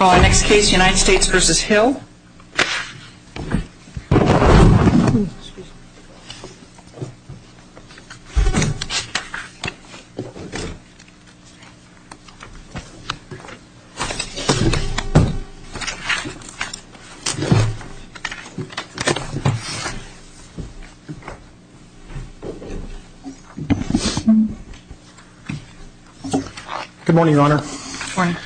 Well our next case United States v. Hill Good morning Your Honor Good morning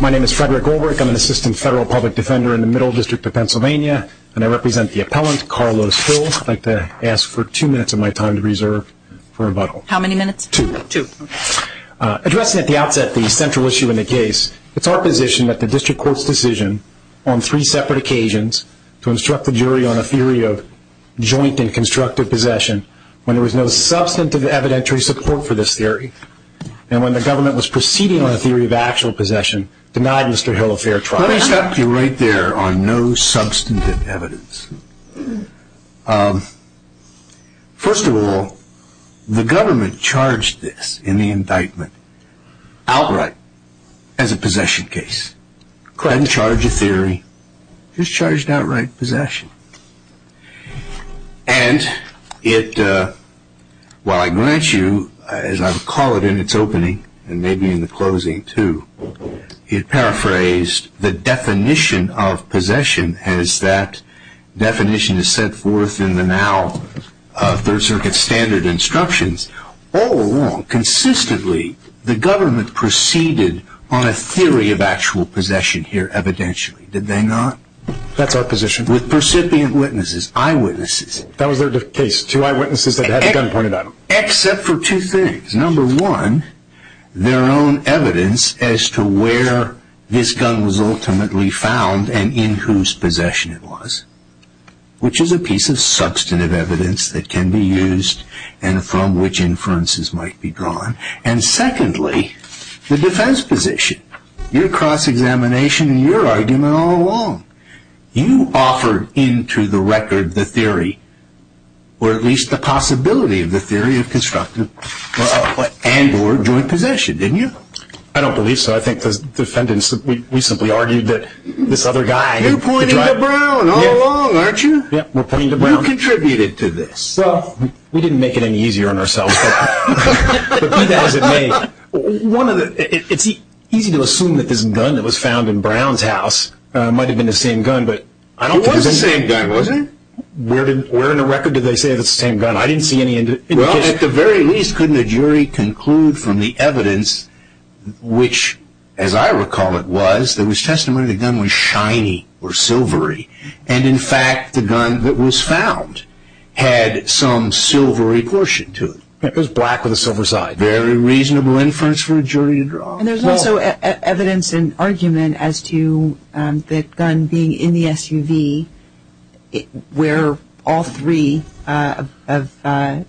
My name is Frederick Ulrich I'm an assistant federal public defender in the Hill District of Pennsylvania and I represent the appellant, Carlos Hill. I'd like to ask for two minutes of my time to reserve for rebuttal. How many minutes? Two. Two. Addressing at the outset the central issue in the case, it's our position that the district court's decision on three separate occasions to instruct the jury on a theory of joint and constructive possession when there was no substantive evidentiary support for this theory and when the government was proceeding on a theory of actual possession denied Mr. Hill a fair trial. Let me stop you right there on no substantive evidence. First of all, the government charged this in the indictment outright as a possession case, didn't charge a theory, just charged outright possession. And it, while I grant you, as I would call it in its opening and the definition of possession as that definition is set forth in the now third circuit standard instructions, all along, consistently, the government proceeded on a theory of actual possession here evidentially, did they not? That's our position. With percipient witnesses, eyewitnesses. That was their case, two eyewitnesses that had the gun pointed at them. Except for two things. Number one, their own evidence as to where this gun was ultimately found and in whose possession it was. Which is a piece of substantive evidence that can be used and from which inferences might be drawn. And secondly, the defense position. Your cross-examination and your argument all along. You offered into the record the theory, or at least the possibility of the theory of constructive and or joint possession, didn't you? I don't believe so. I think the defendants, we simply argued that this other guy. You pointed to Brown all along, aren't you? Yep, we're pointing to Brown. You contributed to this. We didn't make it any easier on ourselves. But be that as it may, it's easy to assume that this gun that was found in Brown's house might have been the same gun, but I don't think so. It was the same gun, wasn't it? Where in the record did they say it was the same gun? I didn't see any indication. Well, at the very least, couldn't a jury conclude from the evidence, which as I recall it was, there was testimony that the gun was shiny or silvery. And in fact, the gun that was found had some silvery portion to it. It was black with a silver side. Very reasonable inference for a jury to draw. And there's also evidence and argument as to the gun being in the SUV where all three of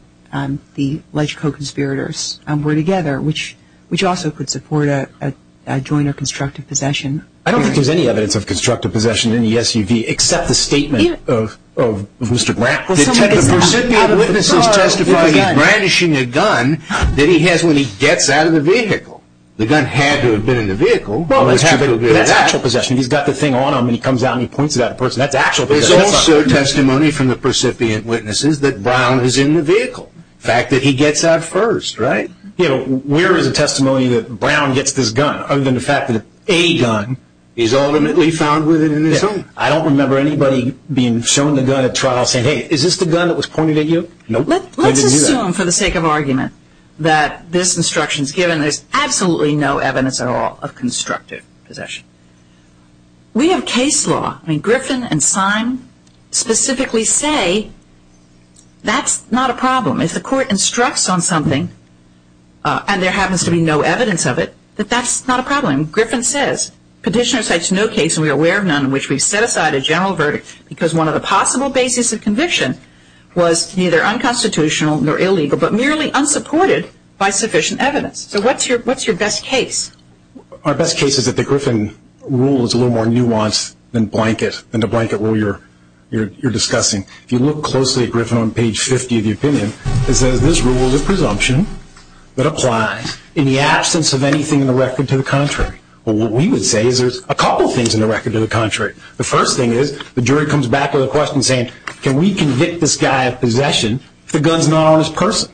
the alleged co-conspirators were together, which also could support a joint or constructive possession. I don't think there's any evidence of constructive possession in the SUV except the statement of Mr. Brown. Well, somebody said that. The recipient of witnesses testified he was brandishing a gun that he has when he gets out of the vehicle. The gun had to have been in the vehicle. Well, that's actual possession. He's got the thing on him and he comes out and he points it out to the person. That's actual possession. There's also testimony from the recipient witnesses that Brown is in the vehicle. The fact that he gets out first, right? You know, where is the testimony that Brown gets this gun other than the fact that a gun is ultimately found within his home? I don't remember anybody being shown the gun at trial saying, hey, is this the gun that was pointed at you? Nope. Let's assume for the sake of argument that this instruction is given, there's absolutely no evidence at all of constructive possession. We have case law. I mean, Griffin and Syme specifically say that's not a problem. If the court instructs on something and there happens to be no evidence of it, that that's not a problem. Griffin says, Petitioner cites no case and we are aware of none in which we've set aside a general verdict because one of the possible basis of conviction was neither unconstitutional nor illegal but merely unsupported by sufficient evidence. So what's your best case? Our best case is that the Griffin rule is a little more nuanced than the blanket rule you're discussing. If you look closely at Griffin on page 50 of the opinion, it says this rule is a presumption that applies in the absence of anything in the record to the contrary. But what we would say is there's a couple of things in the record to the contrary. The first thing is the jury comes back with a question saying, can we convict this guy of possession if the gun's not on his person?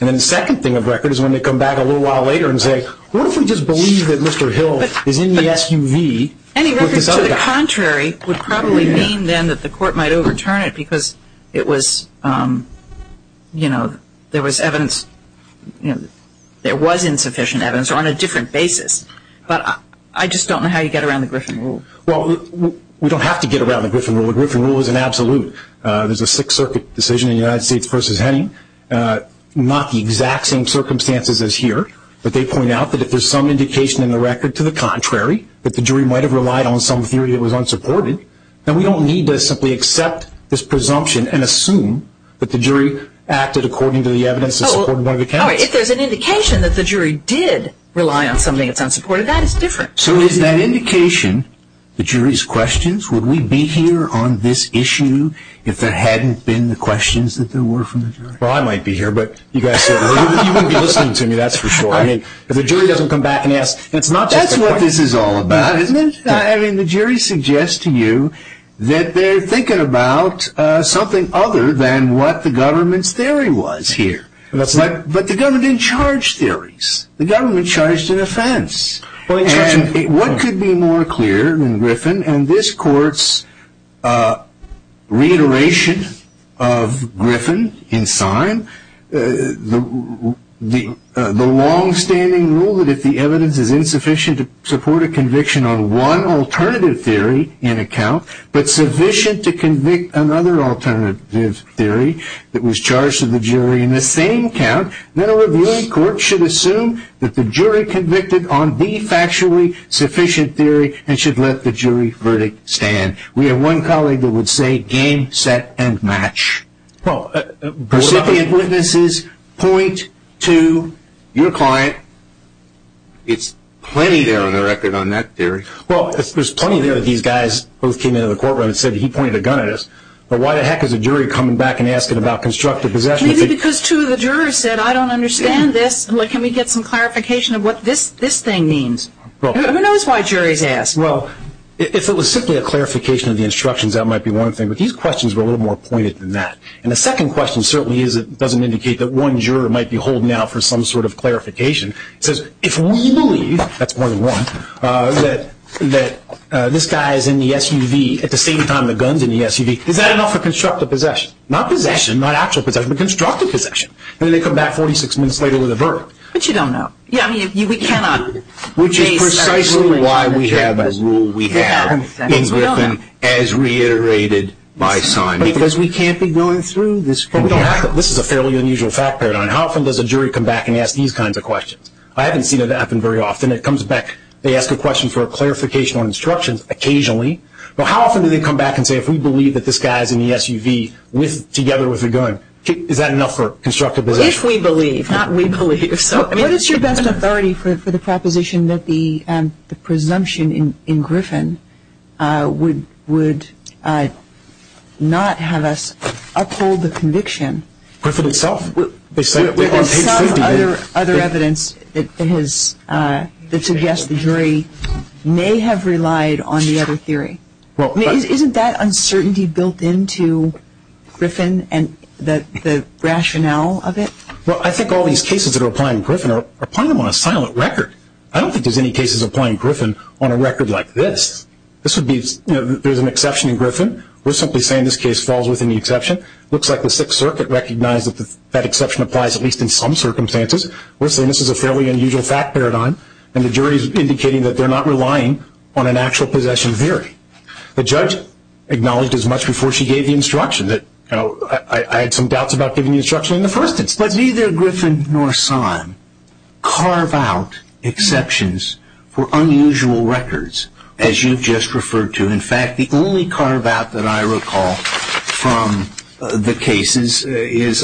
And then the second thing of record is when they come back a little while later and say, what if we just believe that Mr. Hill is in the SUV with this other guy? Any records to the contrary would probably mean then that the court might overturn it because it was, you know, there was evidence, there was insufficient evidence or on a different basis. But I just don't know how you get around the Griffin rule. Well, we don't have to get around the Griffin rule. The Griffin rule is an absolute. There's a Sixth Circuit decision in the United States v. Henning. Not the exact same circumstances as here, but they point out that if there's some indication in the record to the contrary that the jury might have relied on some theory that was unsupported, then we don't need to simply accept this presumption and assume that the jury acted according to the evidence that supported one of the counts. All right. If there's an indication that the jury did rely on something that's unsupported, that is different. So is that indication the jury's questions? Would we be here on this issue if there hadn't been the questions that there were from the jury? Well, I might be here, but you guys said you wouldn't be listening to me, that's for sure. I mean, if the jury doesn't come back and ask, it's not just the court. That's what this is all about, isn't it? I mean, the jury suggests to you that they're thinking about something other than what the government's theory was here. But the government didn't charge theories. The government charged an offense. And what could be more clear than Griffin, and this court's reiteration of Griffin in sign, the longstanding rule that if the evidence is insufficient to support a conviction on one alternative theory in a count, but sufficient to convict another alternative theory that was charged to the jury in the same count, then a reviewing court should assume that the jury convicted on the factually sufficient theory and should let the jury verdict stand. We have one colleague that would say, game, set, and match. Well, recipient witnesses point to your client. It's plenty there on the record on that theory. Well, there's plenty there that these guys both came into the courtroom and said he pointed a gun at us. But why the heck is a jury coming back and asking about constructive possession? Maybe because two of the jurors said, I don't understand this. Can we get some clarification of what this thing means? Who knows why a jury's asked? Well, if it was simply a clarification of the instructions, that might be one thing. But these questions were a little more pointed than that. And the second question certainly doesn't indicate that one juror might be holding out for some sort of clarification. It says, if we believe, that's point one, that this guy is in the SUV at the same time the gun's in the SUV, is that enough for constructive possession? Not possession, not actual possession, but constructive possession. And then they come back 46 minutes later with a verdict. But you don't know. Yeah, I mean, we cannot... Which is precisely why we have a rule we have in Griffin as reiterated by Simon. Because we can't be going through this... But we don't have to. This is a fairly unusual fact paradigm. How often does a jury come back and ask these kinds of questions? I haven't seen it happen very often. It comes back, they ask a question for a clarification on instructions, occasionally. But how often do they come back and say, if we believe that this guy's in the SUV together with a gun, is that enough for constructive possession? If we believe. Not we believe. So, I mean... What is your best authority for the proposition that the presumption in Griffin would not have us uphold the conviction? Griffin itself. They say it on page 50. There is some other evidence that suggests the jury may have relied on the other theory. Isn't that uncertainty built into Griffin and the rationale of it? Well, I think all these cases that are applying to Griffin are applying them on a silent record. I don't think there's any cases applying to Griffin on a record like this. This would be... You know, there's an exception in Griffin. We're simply saying this case falls within the exception. Looks like the Sixth Circuit recognized that that exception applies at least in some circumstances. We're saying this is a fairly unusual fact paradigm. And the jury's indicating that they're not relying on an actual possession theory. The judge acknowledged as much before she gave the instruction that... I had some doubts about giving the instruction in the first instance. But neither Griffin nor Syme carve out exceptions for unusual records, as you've just referred to. In fact, the only carve out that I recall from the cases is...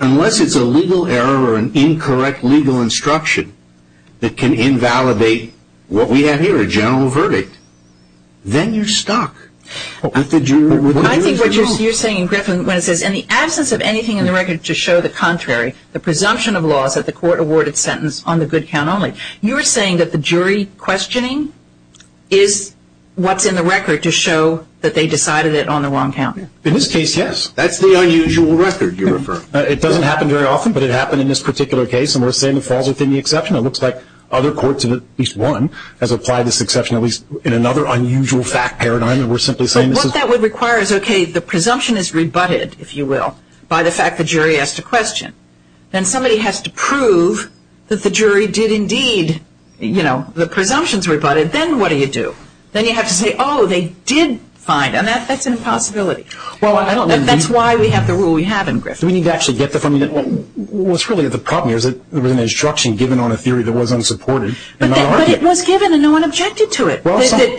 Unless it's a legal error or an incorrect legal instruction that can invalidate what we have here, a general verdict, then you're stuck. I think what you're saying, Griffin, when it says, in the absence of anything in the record to show the contrary, the presumption of loss of the court-awarded sentence on the good count only, you're saying that the jury questioning is what's in the record to show that they decided it on the wrong count. In this case, yes. That's the unusual record you refer. It doesn't happen very often, but it happened in this particular case. And we're saying it falls within the exception. It looks like other courts, at least one, has applied this exception, at least in another unusual fact paradigm. What that would require is, okay, the presumption is rebutted, if you will, by the fact the jury asked a question. Then somebody has to prove that the jury did indeed, you know, the presumption's rebutted. Then what do you do? Then you have to say, oh, they did find, and that's an impossibility. That's why we have the rule we have in Griffith. Do we need to actually get the from you? What's really the problem is that there was an instruction given on a theory that was unsupported. But it was given, and no one objected to it.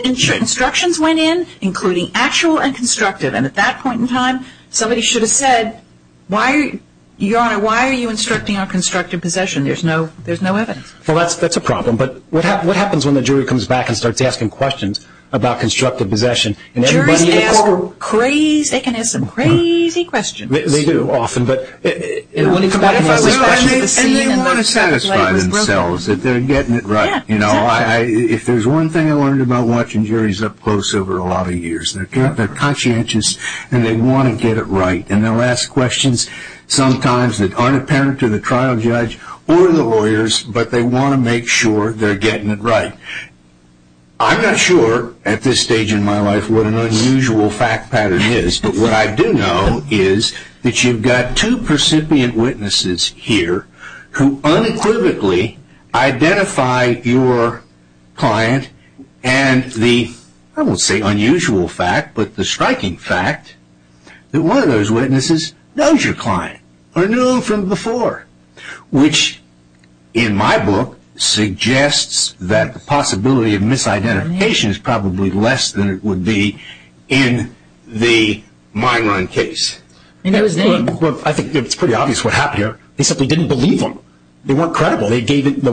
Instructions went in, including actual and constructive. And at that point in time, somebody should have said, Your Honor, why are you instructing on constructive possession? There's no evidence. Well, that's a problem. But what happens when the jury comes back and starts asking questions about constructive possession? Juries ask crazy, they can ask some crazy questions. They do often. And they want to satisfy themselves that they're getting it right. You know, if there's one thing I learned about watching juries up close over a lot of years, they're conscientious and they want to get it right. And they'll ask questions sometimes that aren't apparent to the trial judge or the lawyers, but they want to make sure they're getting it right. I'm not sure at this stage in my life what an unusual fact pattern is. But what I do know is that you've got two percipient witnesses here who unequivocally identify your client and the, I won't say unusual fact, but the striking fact that one of those witnesses knows your client or knew him from before, which, in my book, suggests that the possibility of misidentification is probably less than it would be in the Myron case. I think it's pretty obvious what happened here. They simply didn't believe him. They weren't credible. The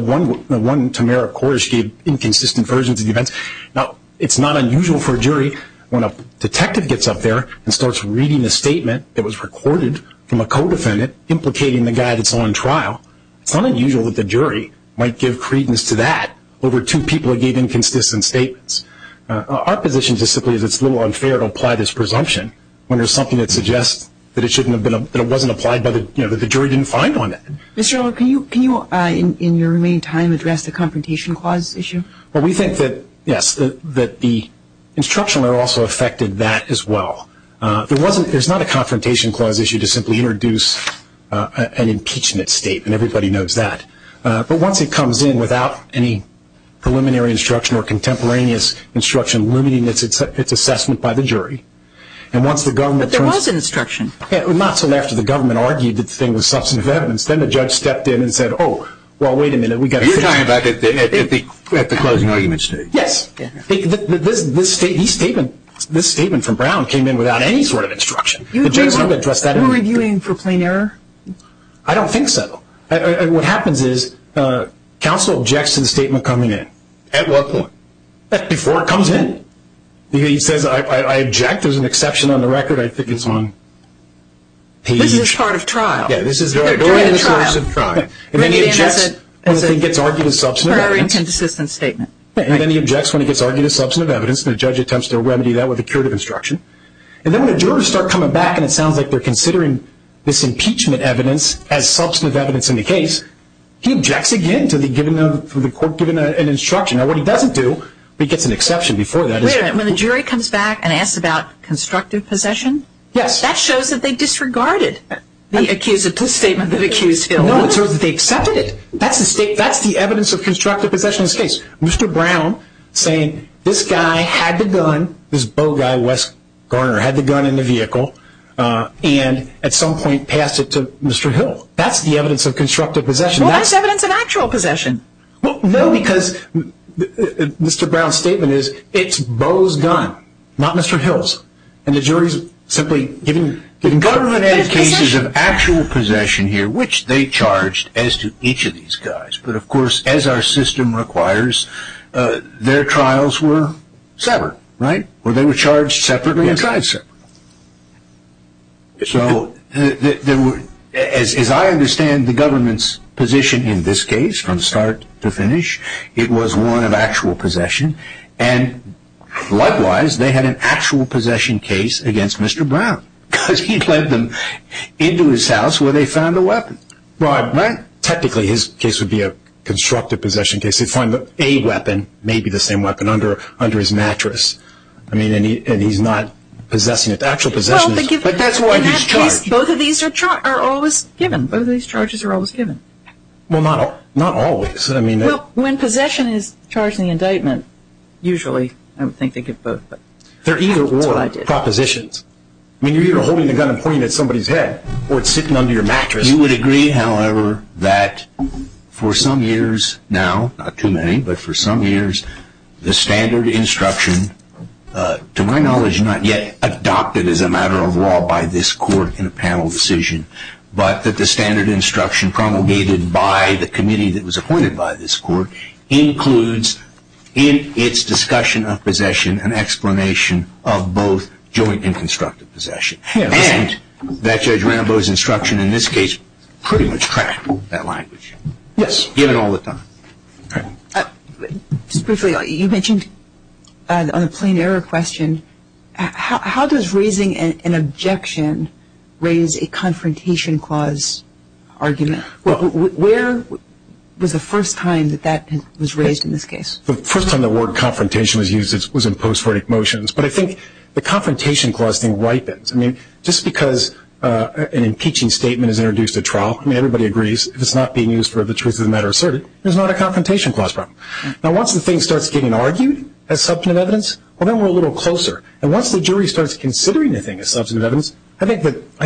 one Tamara Cordish gave inconsistent versions of the events. Now, it's not unusual for a jury when a detective gets up there and starts reading a statement that was recorded from a co-defendant implicating the guy that's on trial. It's not unusual that the jury might give credence to that over two people who gave inconsistent statements. Our position is simply that it's a little unfair to apply this presumption when there's something that suggests that it wasn't applied, that the jury didn't find one. Mr. Earle, can you, in your remaining time, address the confrontation clause issue? Well, we think that, yes, that the instructional error also affected that as well. There's not a confrontation clause issue to simply introduce an impeachment state, and everybody knows that. But once it comes in without any preliminary instruction or contemporaneous instruction limiting its assessment by the jury, and once the government turns to it. But there was instruction. Not until after the government argued that the thing was substantive evidence. Then the judge stepped in and said, oh, well, wait a minute, we've got to figure out. You're talking about at the closing argument stage. Yes. This statement from Brown came in without any sort of instruction. You were reviewing for plain error? I don't think so. What happens is counsel objects to the statement coming in. At what point? Before it comes in. He says, I object, there's an exception on the record, I think it's on page. This is part of trial. Yeah, this is part of trial. And then he objects when the thing gets argued as substantive evidence. And then he objects when it gets argued as substantive evidence, and the judge attempts to remedy that with a curative instruction. And then when the jurors start coming back and it sounds like they're considering this impeachment evidence as substantive evidence in the case, he objects again to the court giving an instruction. Now what he doesn't do, but he gets an exception before that. Wait a minute, when the jury comes back and asks about constructive possession? Yes. That shows that they disregarded the statement that accused Phil. No, it shows that they accepted it. That's the evidence of constructive possession in this case. Mr. Brown saying, this guy had the gun, this Bo guy, Wes Garner, had the gun in the vehicle, and at some point passed it to Mr. Hill. That's the evidence of constructive possession. Well, that's evidence of actual possession. No, because Mr. Brown's statement is, it's Bo's gun, not Mr. Hill's. And the jury's simply giving government-edited cases of actual possession here, which they charged as to each of these guys. But, of course, as our system requires, their trials were separate, right? Or they were charged separately and tried separately. Yes. So, as I understand the government's position in this case, from start to finish, it was one of actual possession. And, likewise, they had an actual possession case against Mr. Brown because he led them into his house where they found the weapon. Right. Technically, his case would be a constructive possession case. He'd find a weapon, maybe the same weapon, under his mattress. I mean, and he's not possessing it. The actual possession is. But that's why he's charged. Well, in that case, both of these are always given. Both of these charges are always given. Well, not always. Well, when possession is charged in the indictment, usually I would think they give both. They're either or. That's what I did. I mean, you're either holding the gun and pointing it at somebody's head or it's sitting under your mattress. You would agree, however, that for some years now, not too many, but for some years, the standard instruction, to my knowledge, not yet adopted as a matter of law by this court in a panel decision, but that the standard instruction promulgated by the committee that was appointed by this court includes in its discussion of possession an explanation of both joint and constructive possession. And that Judge Rennebaugh's instruction in this case pretty much cracked that language. Yes. Given all the time. Just briefly, you mentioned on the plain error question, how does raising an objection raise a confrontation clause argument? Where was the first time that that was raised in this case? The first time the word confrontation was used was in post-verdict motions. But I think the confrontation clause thing ripens. I mean, just because an impeaching statement is introduced at trial, I mean, everybody agrees, if it's not being used for the truth of the matter asserted, there's not a confrontation clause problem. Now, once the thing starts getting argued as substantive evidence, well, then we're a little closer. And once the jury starts considering the thing as substantive evidence, I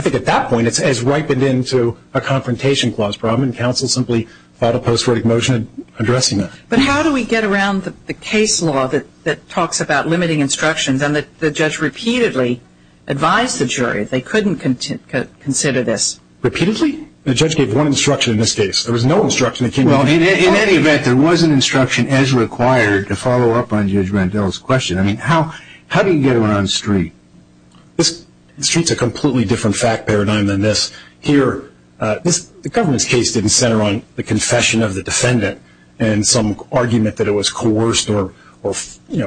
think at that point it's as ripened into a confrontation clause problem, and counsel simply filed a post-verdict motion addressing that. But how do we get around the case law that talks about limiting instructions and that the judge repeatedly advised the jury they couldn't consider this? Repeatedly? The judge gave one instruction in this case. There was no instruction that came in. Well, in any event, there was an instruction as required to follow up on Judge Rendell's question. I mean, how do you get around street? The street's a completely different fact paradigm than this. Here, the government's case didn't center on the confession of the defendant and some argument that it was coerced or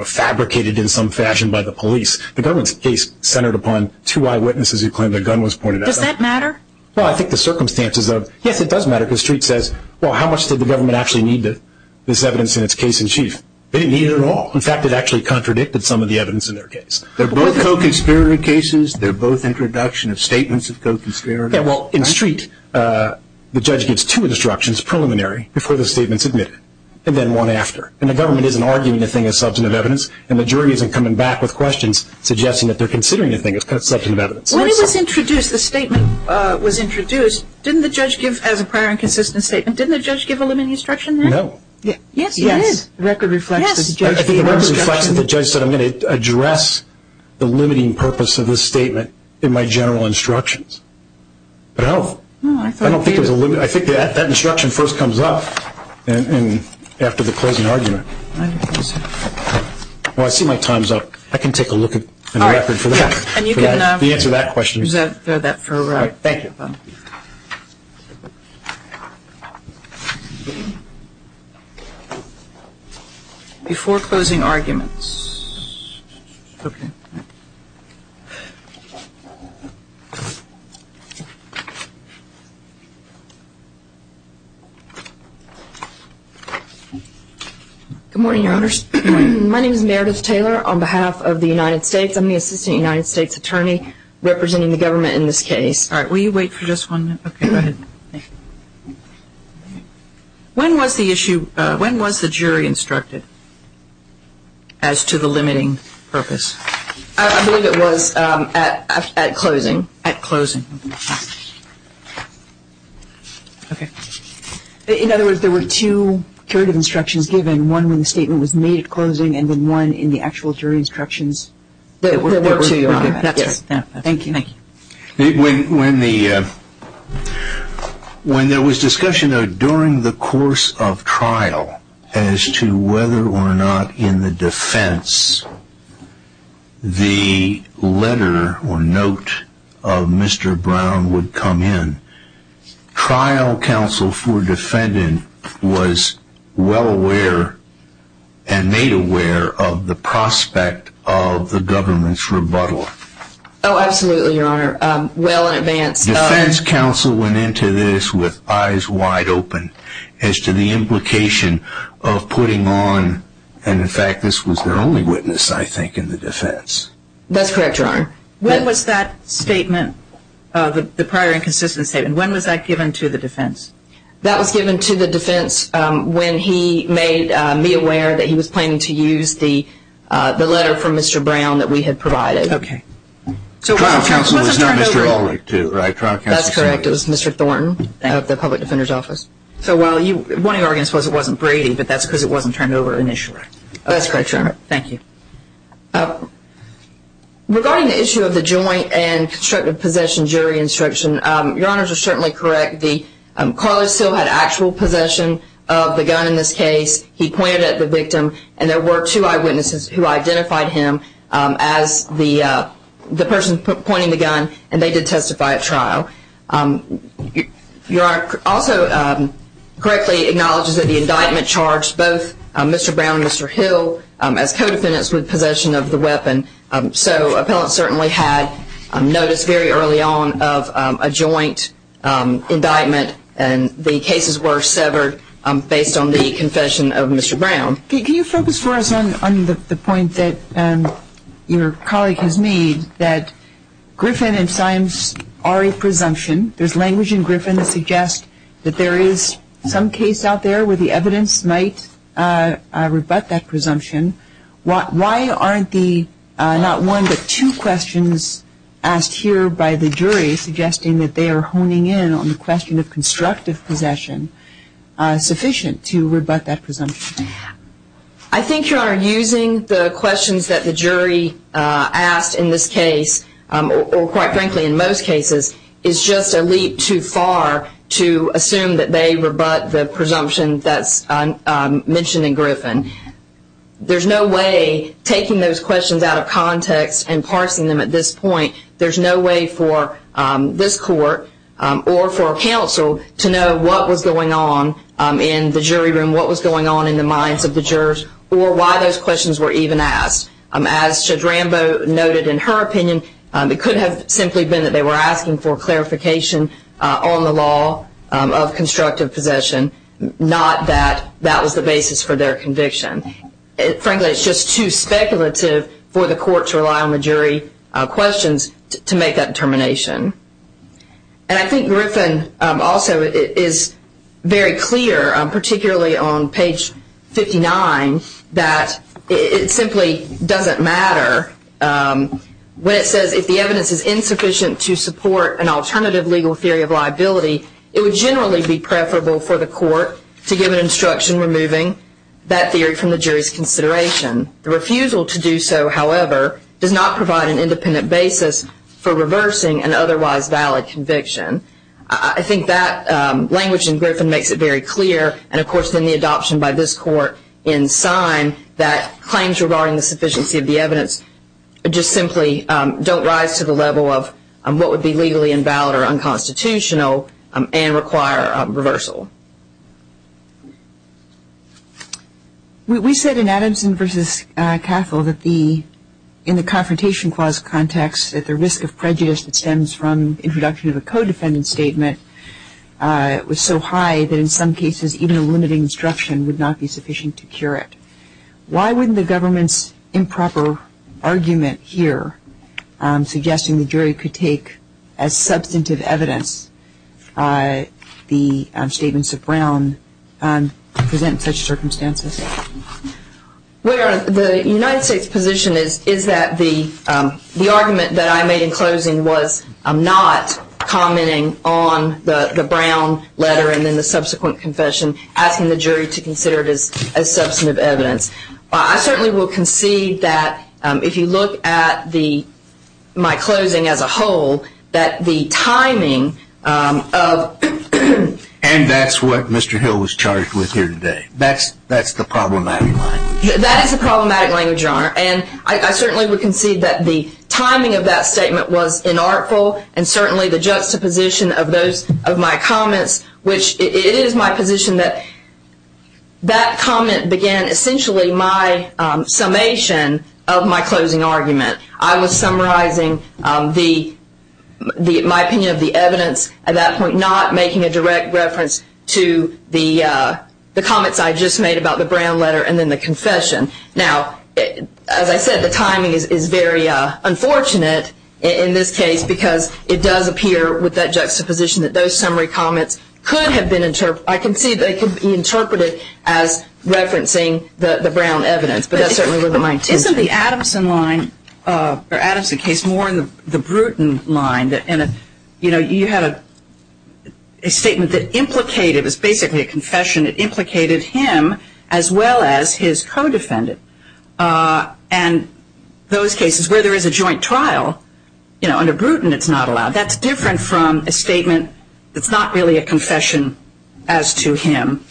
fabricated in some fashion by the police. The government's case centered upon two eyewitnesses who claimed the gun was pointed at them. Does that matter? Well, I think the circumstances of, yes, it does matter because street says, well, how much did the government actually need this evidence in its case in chief? They didn't need it at all. In fact, it actually contradicted some of the evidence in their case. They're both co-conspirator cases. They're both introduction of statements of co-conspirator. Yeah, well, in street, the judge gives two instructions preliminary before the statement's admitted and then one after, and the government isn't arguing the thing as substantive evidence and the jury isn't coming back with questions suggesting that they're considering the thing as substantive evidence. When it was introduced, the statement was introduced, didn't the judge give, as a prior and consistent statement, didn't the judge give a limiting instruction there? Yes, he did. The record reflects that the judge gave a limiting instruction. I don't think there's the limiting purpose of this statement in my general instructions. But I don't think there's a limit. I think that instruction first comes up after the closing argument. Well, I see my time's up. I can take a look at the record for that, the answer to that question. All right. Thank you. Before closing arguments. Okay. Good morning, Your Honors. My name is Meredith Taylor on behalf of the United States. I'm the assistant United States attorney representing the government in this case. All right. We'll wait for just one minute. Okay, go ahead. When was the issue, when was the jury instructed as to the limiting purpose? I believe it was at closing. At closing. Okay. In other words, there were two curative instructions given, one when the statement was made at closing and then one in the actual jury instructions that were given. That's right. Thank you. When there was discussion during the course of trial as to whether or not in the defense the letter or note of Mr. Brown would come in, trial counsel for defendant was well aware and made aware of the prospect of the government's rebuttal. Oh, absolutely, Your Honor. Well in advance. Defense counsel went into this with eyes wide open as to the implication of putting on, and in fact this was their only witness I think in the defense. That's correct, Your Honor. When was that statement, the prior inconsistent statement, when was that given to the defense? That was given to the defense when he made me aware that he was planning to use the letter from Mr. Brown that we had provided. Okay. Trial counsel was not Mr. Ehrlich too, right? That's correct. It was Mr. Thornton of the Public Defender's Office. So while one of your arguments was it wasn't Brady, but that's because it wasn't turned over initially. That's correct, Your Honor. Thank you. Regarding the issue of the joint and constructive possession jury instruction, Your Honors are certainly correct. Carly still had actual possession of the gun in this case. He pointed at the victim, and there were two eyewitnesses who identified him as the person pointing the gun, and they did testify at trial. Your Honor also correctly acknowledges that the indictment charged both Mr. Brown and Mr. Hill as co-defendants with possession of the weapon. So appellants certainly had notice very early on of a joint indictment, and the cases were severed based on the confession of Mr. Brown. Can you focus for us on the point that your colleague has made that Griffin and Symes are a presumption? There's language in Griffin that suggests that there is some case out there where the evidence might rebut that presumption. Why aren't the not one but two questions asked here by the jury suggesting that they are honing in on the question of constructive possession sufficient to rebut that presumption? I think, Your Honor, using the questions that the jury asked in this case, or quite frankly in most cases, is just a leap too far to assume that they rebut the presumption that's mentioned in Griffin. There's no way, taking those questions out of context and parsing them at this point, there's no way for this court or for counsel to know what was going on in the jury room, what was going on in the minds of the jurors, or why those questions were even asked. As Judge Rambo noted in her opinion, it could have simply been that they were asking for clarification on the law of constructive possession, not that that was the basis for their conviction. Frankly, it's just too speculative for the court to rely on the jury questions to make that determination. And I think Griffin also is very clear, particularly on page 59, that it simply doesn't matter. When it says, if the evidence is insufficient to support an alternative legal theory of liability, it would generally be preferable for the court to give an instruction removing that theory from the jury's consideration. The refusal to do so, however, does not provide an independent basis for reversing an otherwise valid conviction. I think that language in Griffin makes it very clear, and, of course, then the adoption by this court in Syme that claims regarding the sufficiency of the evidence just simply don't rise to the level of what would be legally invalid or unconstitutional and require a reversal. We said in Adamson v. Cathel that the, in the Confrontation Clause context, that the risk of prejudice that stems from introduction of a co-defendant statement was so high that, in some cases, even a limited instruction would not be sufficient to cure it. Why wouldn't the government's improper argument here suggesting the jury could take as substantive evidence the statements of Brown present such circumstances? Well, the United States' position is that the argument that I made in closing was not commenting on the Brown letter and then the subsequent confession, asking the jury to consider it as substantive evidence. I certainly will concede that if you look at my closing as a whole, that the timing of... And that's what Mr. Hill was charged with here today. That's the problematic language. That is the problematic language, Your Honor. And I certainly would concede that the timing of that statement was inartful and certainly the juxtaposition of my comments, which it is my position that that comment began essentially my summation of my closing argument. I was summarizing my opinion of the evidence at that point, not making a direct reference to the comments I had just made about the Brown letter and then the confession. Now, as I said, the timing is very unfortunate in this case because it does appear with that juxtaposition that those summary comments could have been interpreted... I concede they could be interpreted as referencing the Brown evidence, but that certainly wasn't my intention. Isn't the Adamson case more in the Bruton line? You know, you had a statement that implicated... And those cases where there is a joint trial, you know, under Bruton it's not allowed. That's different from a statement that's not really a confession as to him,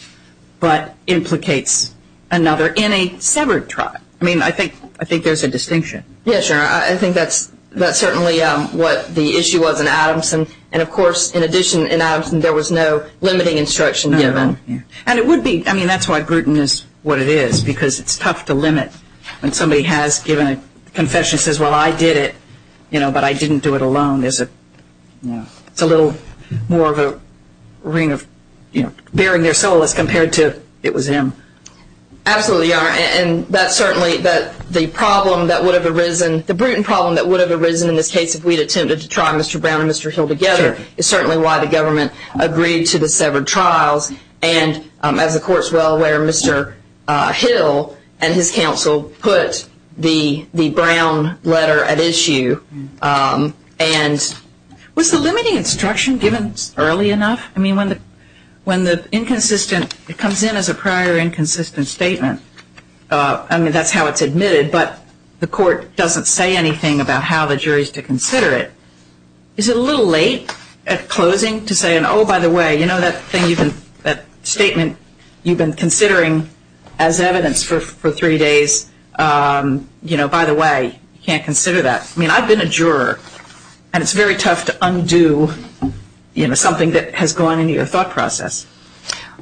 but implicates another in a severed trial. I mean, I think there's a distinction. Yes, Your Honor. I think that's certainly what the issue was in Adamson. And, of course, in addition, in Adamson there was no limiting instruction given. And it would be... I mean, that's why Bruton is what it is, because it's tough to limit when somebody has given a confession and says, well, I did it, you know, but I didn't do it alone. It's a little more of a ring of, you know, baring their soul as compared to it was him. Absolutely, Your Honor. And that's certainly the problem that would have arisen... the Bruton problem that would have arisen in this case if we had attempted to try Mr. Brown and Mr. Hill together is certainly why the government agreed to the severed trials. And, as the Court is well aware, Mr. Hill and his counsel put the Brown letter at issue. And was the limiting instruction given early enough? I mean, when the inconsistent... it comes in as a prior inconsistent statement. I mean, that's how it's admitted, but the Court doesn't say anything about how the jury is to consider it. Is it a little late at closing to say, oh, by the way, you know, that statement you've been considering as evidence for three days, you know, by the way, you can't consider that. I mean, I've been a juror, and it's very tough to undo, you know, something that has gone into your thought process.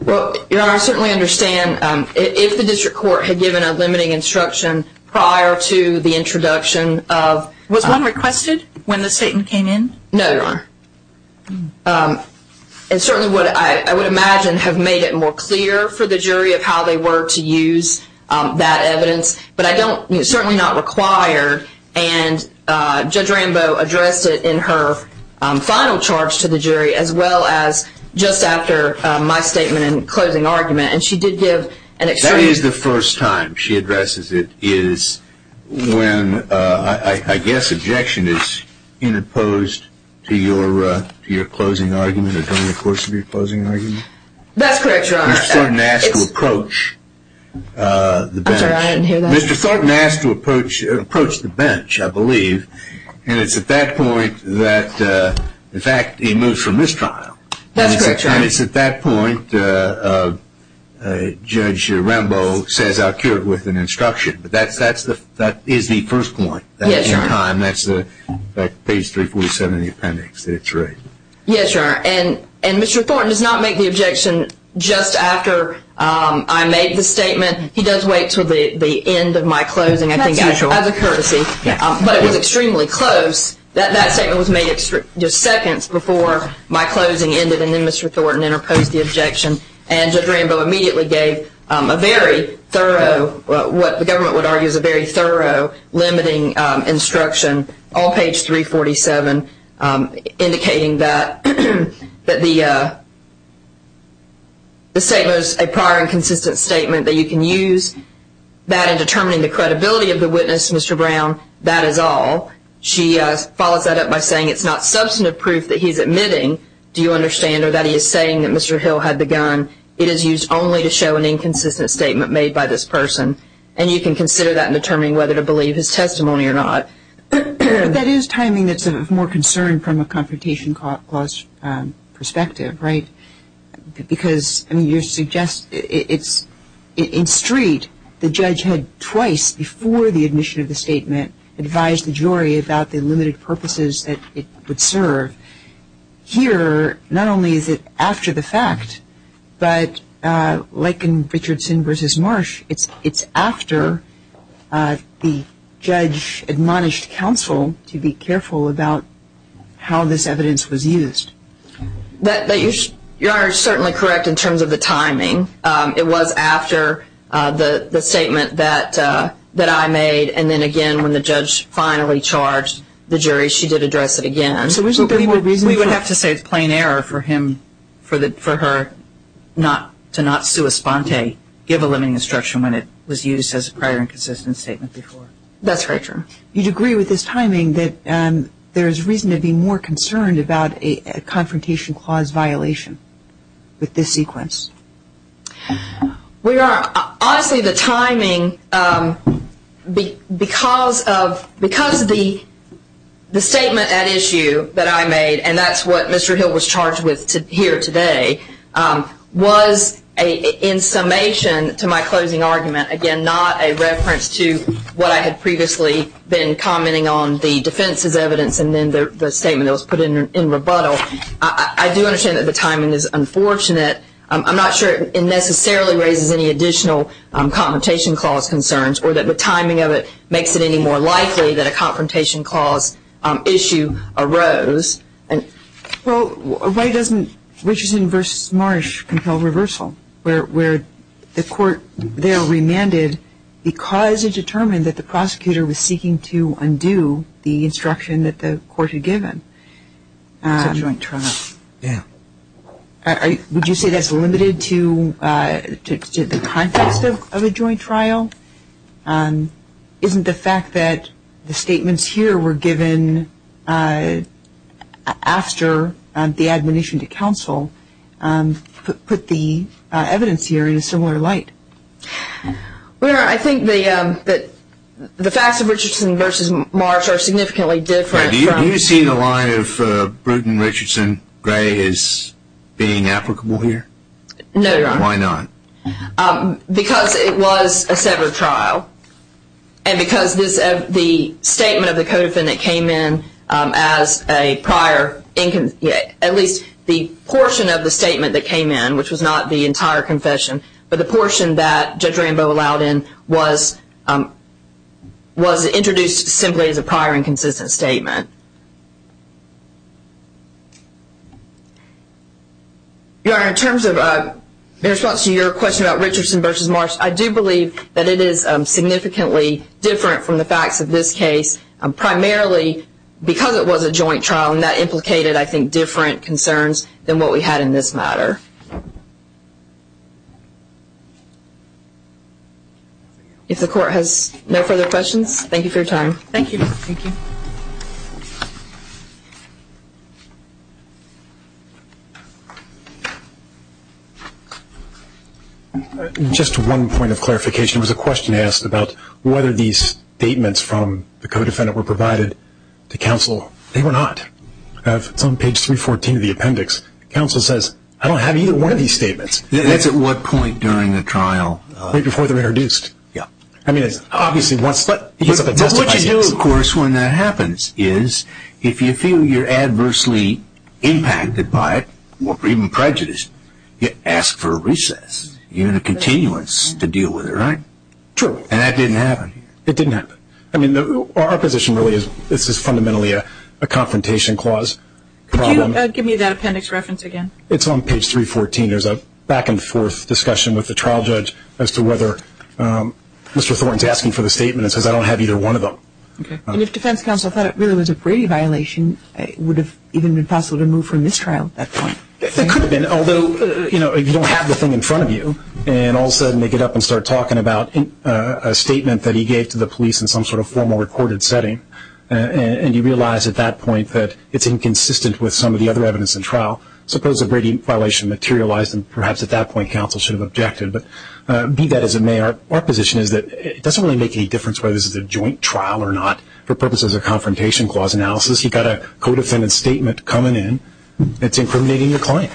Well, Your Honor, I certainly understand. If the district court had given a limiting instruction prior to the introduction of... No, Your Honor. It certainly would, I would imagine, have made it more clear for the jury of how they were to use that evidence. But I don't, it's certainly not required, and Judge Rambo addressed it in her final charge to the jury, as well as just after my statement in closing argument. And she did give an extreme... to your closing argument or during the course of your closing argument? That's correct, Your Honor. Mr. Thornton asked to approach the bench. I'm sorry, I didn't hear that. Mr. Thornton asked to approach the bench, I believe, and it's at that point that, in fact, he moves from this trial. That's correct, Your Honor. And it's at that point Judge Rambo says I'll cure it with an instruction. But that is the first point. Yes, Your Honor. And that's page 347 in the appendix that it's right. Yes, Your Honor. And Mr. Thornton does not make the objection just after I made the statement. He does wait until the end of my closing, I think, as a courtesy. But it was extremely close. That statement was made just seconds before my closing ended, and then Mr. Thornton interposed the objection. And Judge Rambo immediately gave a very thorough, what the government would argue is a very thorough, limiting instruction, all page 347, indicating that the statement is a prior and consistent statement, that you can use that in determining the credibility of the witness, Mr. Brown. That is all. She follows that up by saying it's not substantive proof that he's admitting, do you understand, or that he is saying that Mr. Hill had the gun. It is used only to show an inconsistent statement made by this person. And you can consider that in determining whether to believe his testimony or not. But that is timing that's of more concern from a confrontation clause perspective, right? Because, I mean, you suggest it's in street, the judge had twice before the admission of the statement advised the jury about the limited purposes that it would serve. Here, not only is it after the fact, but like in Richardson v. Marsh, it's after the judge admonished counsel to be careful about how this evidence was used. You are certainly correct in terms of the timing. It was after the statement that I made, and then again when the judge finally charged the jury, she did address it again. We would have to say it's plain error for him, for her, to not sua sponte, give a limiting instruction when it was used as a prior inconsistent statement before. That's right, Your Honor. You'd agree with this timing that there's reason to be more concerned about a confrontation clause violation with this sequence? We are. Honestly, the timing, because of the statement at issue that I made, and that's what Mr. Hill was charged with here today, was in summation to my closing argument, again, not a reference to what I had previously been commenting on the defense's evidence and then the statement that was put in rebuttal. I do understand that the timing is unfortunate. I'm not sure it necessarily raises any additional confrontation clause concerns or that the timing of it makes it any more likely that a confrontation clause issue arose. Well, why doesn't Richardson v. Marsh compel reversal where the court there remanded because it determined that the prosecutor was seeking to undo the instruction that the court had given? It's a joint trial. Yeah. Would you say that's limited to the context of a joint trial? Isn't the fact that the statements here were given after the admonition to counsel put the evidence here in a similar light? Well, Your Honor, I think that the facts of Richardson v. Marsh are significantly different. Do you see the line of Bruton, Richardson, Gray as being applicable here? No, Your Honor. Why not? Because it was a severed trial and because the statement of the codefendant came in as a prior, at least the portion of the statement that came in, which was not the entire confession, but the portion that Judge Rambo allowed in was introduced simply as a prior and consistent statement. Your Honor, in response to your question about Richardson v. Marsh, I do believe that it is significantly different from the facts of this case, primarily because it was a joint trial, and that implicated, I think, different concerns than what we had in this matter. If the court has no further questions, thank you for your time. Thank you. Thank you. Just one point of clarification. There was a question asked about whether these statements from the codefendant were provided to counsel. They were not. It's on page 314 of the appendix. Counsel says, I don't have either one of these statements. That's at what point during the trial? Right before they're introduced. Yeah. I mean, it's obviously once the testifies to this. What you do, of course, when that happens is if you feel you're adversely impacted by it or even prejudiced, you ask for a recess, even a continuance to deal with it, right? True. And that didn't happen. It didn't happen. I mean, our position really is this is fundamentally a confrontation clause. Could you give me that appendix reference again? It's on page 314. There's a back and forth discussion with the trial judge as to whether Mr. Thornton is asking for the statement and says, I don't have either one of them. Okay. And if defense counsel thought it really was a Brady violation, it would have even been possible to move from this trial at that point. It could have been, although if you don't have the thing in front of you and all of a sudden they get up and start talking about a statement that he gave to the police in some sort of formal recorded setting and you realize at that point that it's inconsistent with some of the other evidence in trial, suppose a Brady violation materialized and perhaps at that point counsel should have objected. But be that as it may, our position is that it doesn't really make any difference whether this is a joint trial or not. For purposes of confrontation clause analysis, you've got a co-defendant statement coming in. It's incriminating the client.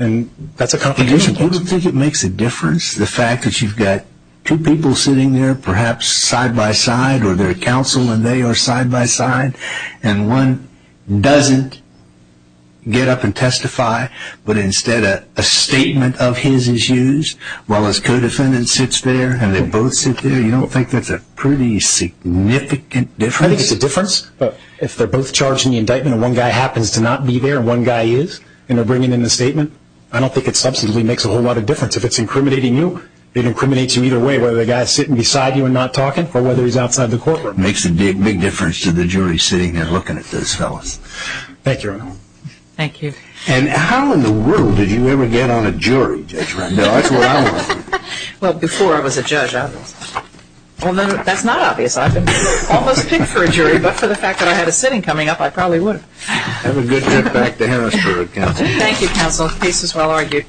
And that's a confrontation clause. You don't think it makes a difference, the fact that you've got two people sitting there perhaps side by side or they're counsel and they are side by side and one doesn't get up and testify but instead a statement of his is used while his co-defendant sits there and they both sit there? You don't think that's a pretty significant difference? I think it's a difference. But if they're both charged in the indictment and one guy happens to not be there and one guy is and they're bringing in the statement, I don't think it substantively makes a whole lot of difference. If it's incriminating you, it incriminates you either way, whether the guy is sitting beside you and not talking or whether he's outside the courtroom. It makes a big difference to the jury sitting there looking at those fellows. Thank you, Your Honor. Thank you. And how in the world did you ever get on a jury, Judge Randall? That's what I want to know. Well, before I was a judge I was. Well, that's not obvious. I've been almost picked for a jury, but for the fact that I had a sitting coming up, I probably would have. Have a good trip back to Harrisburg, counsel. Thank you, counsel. Peace is well argued.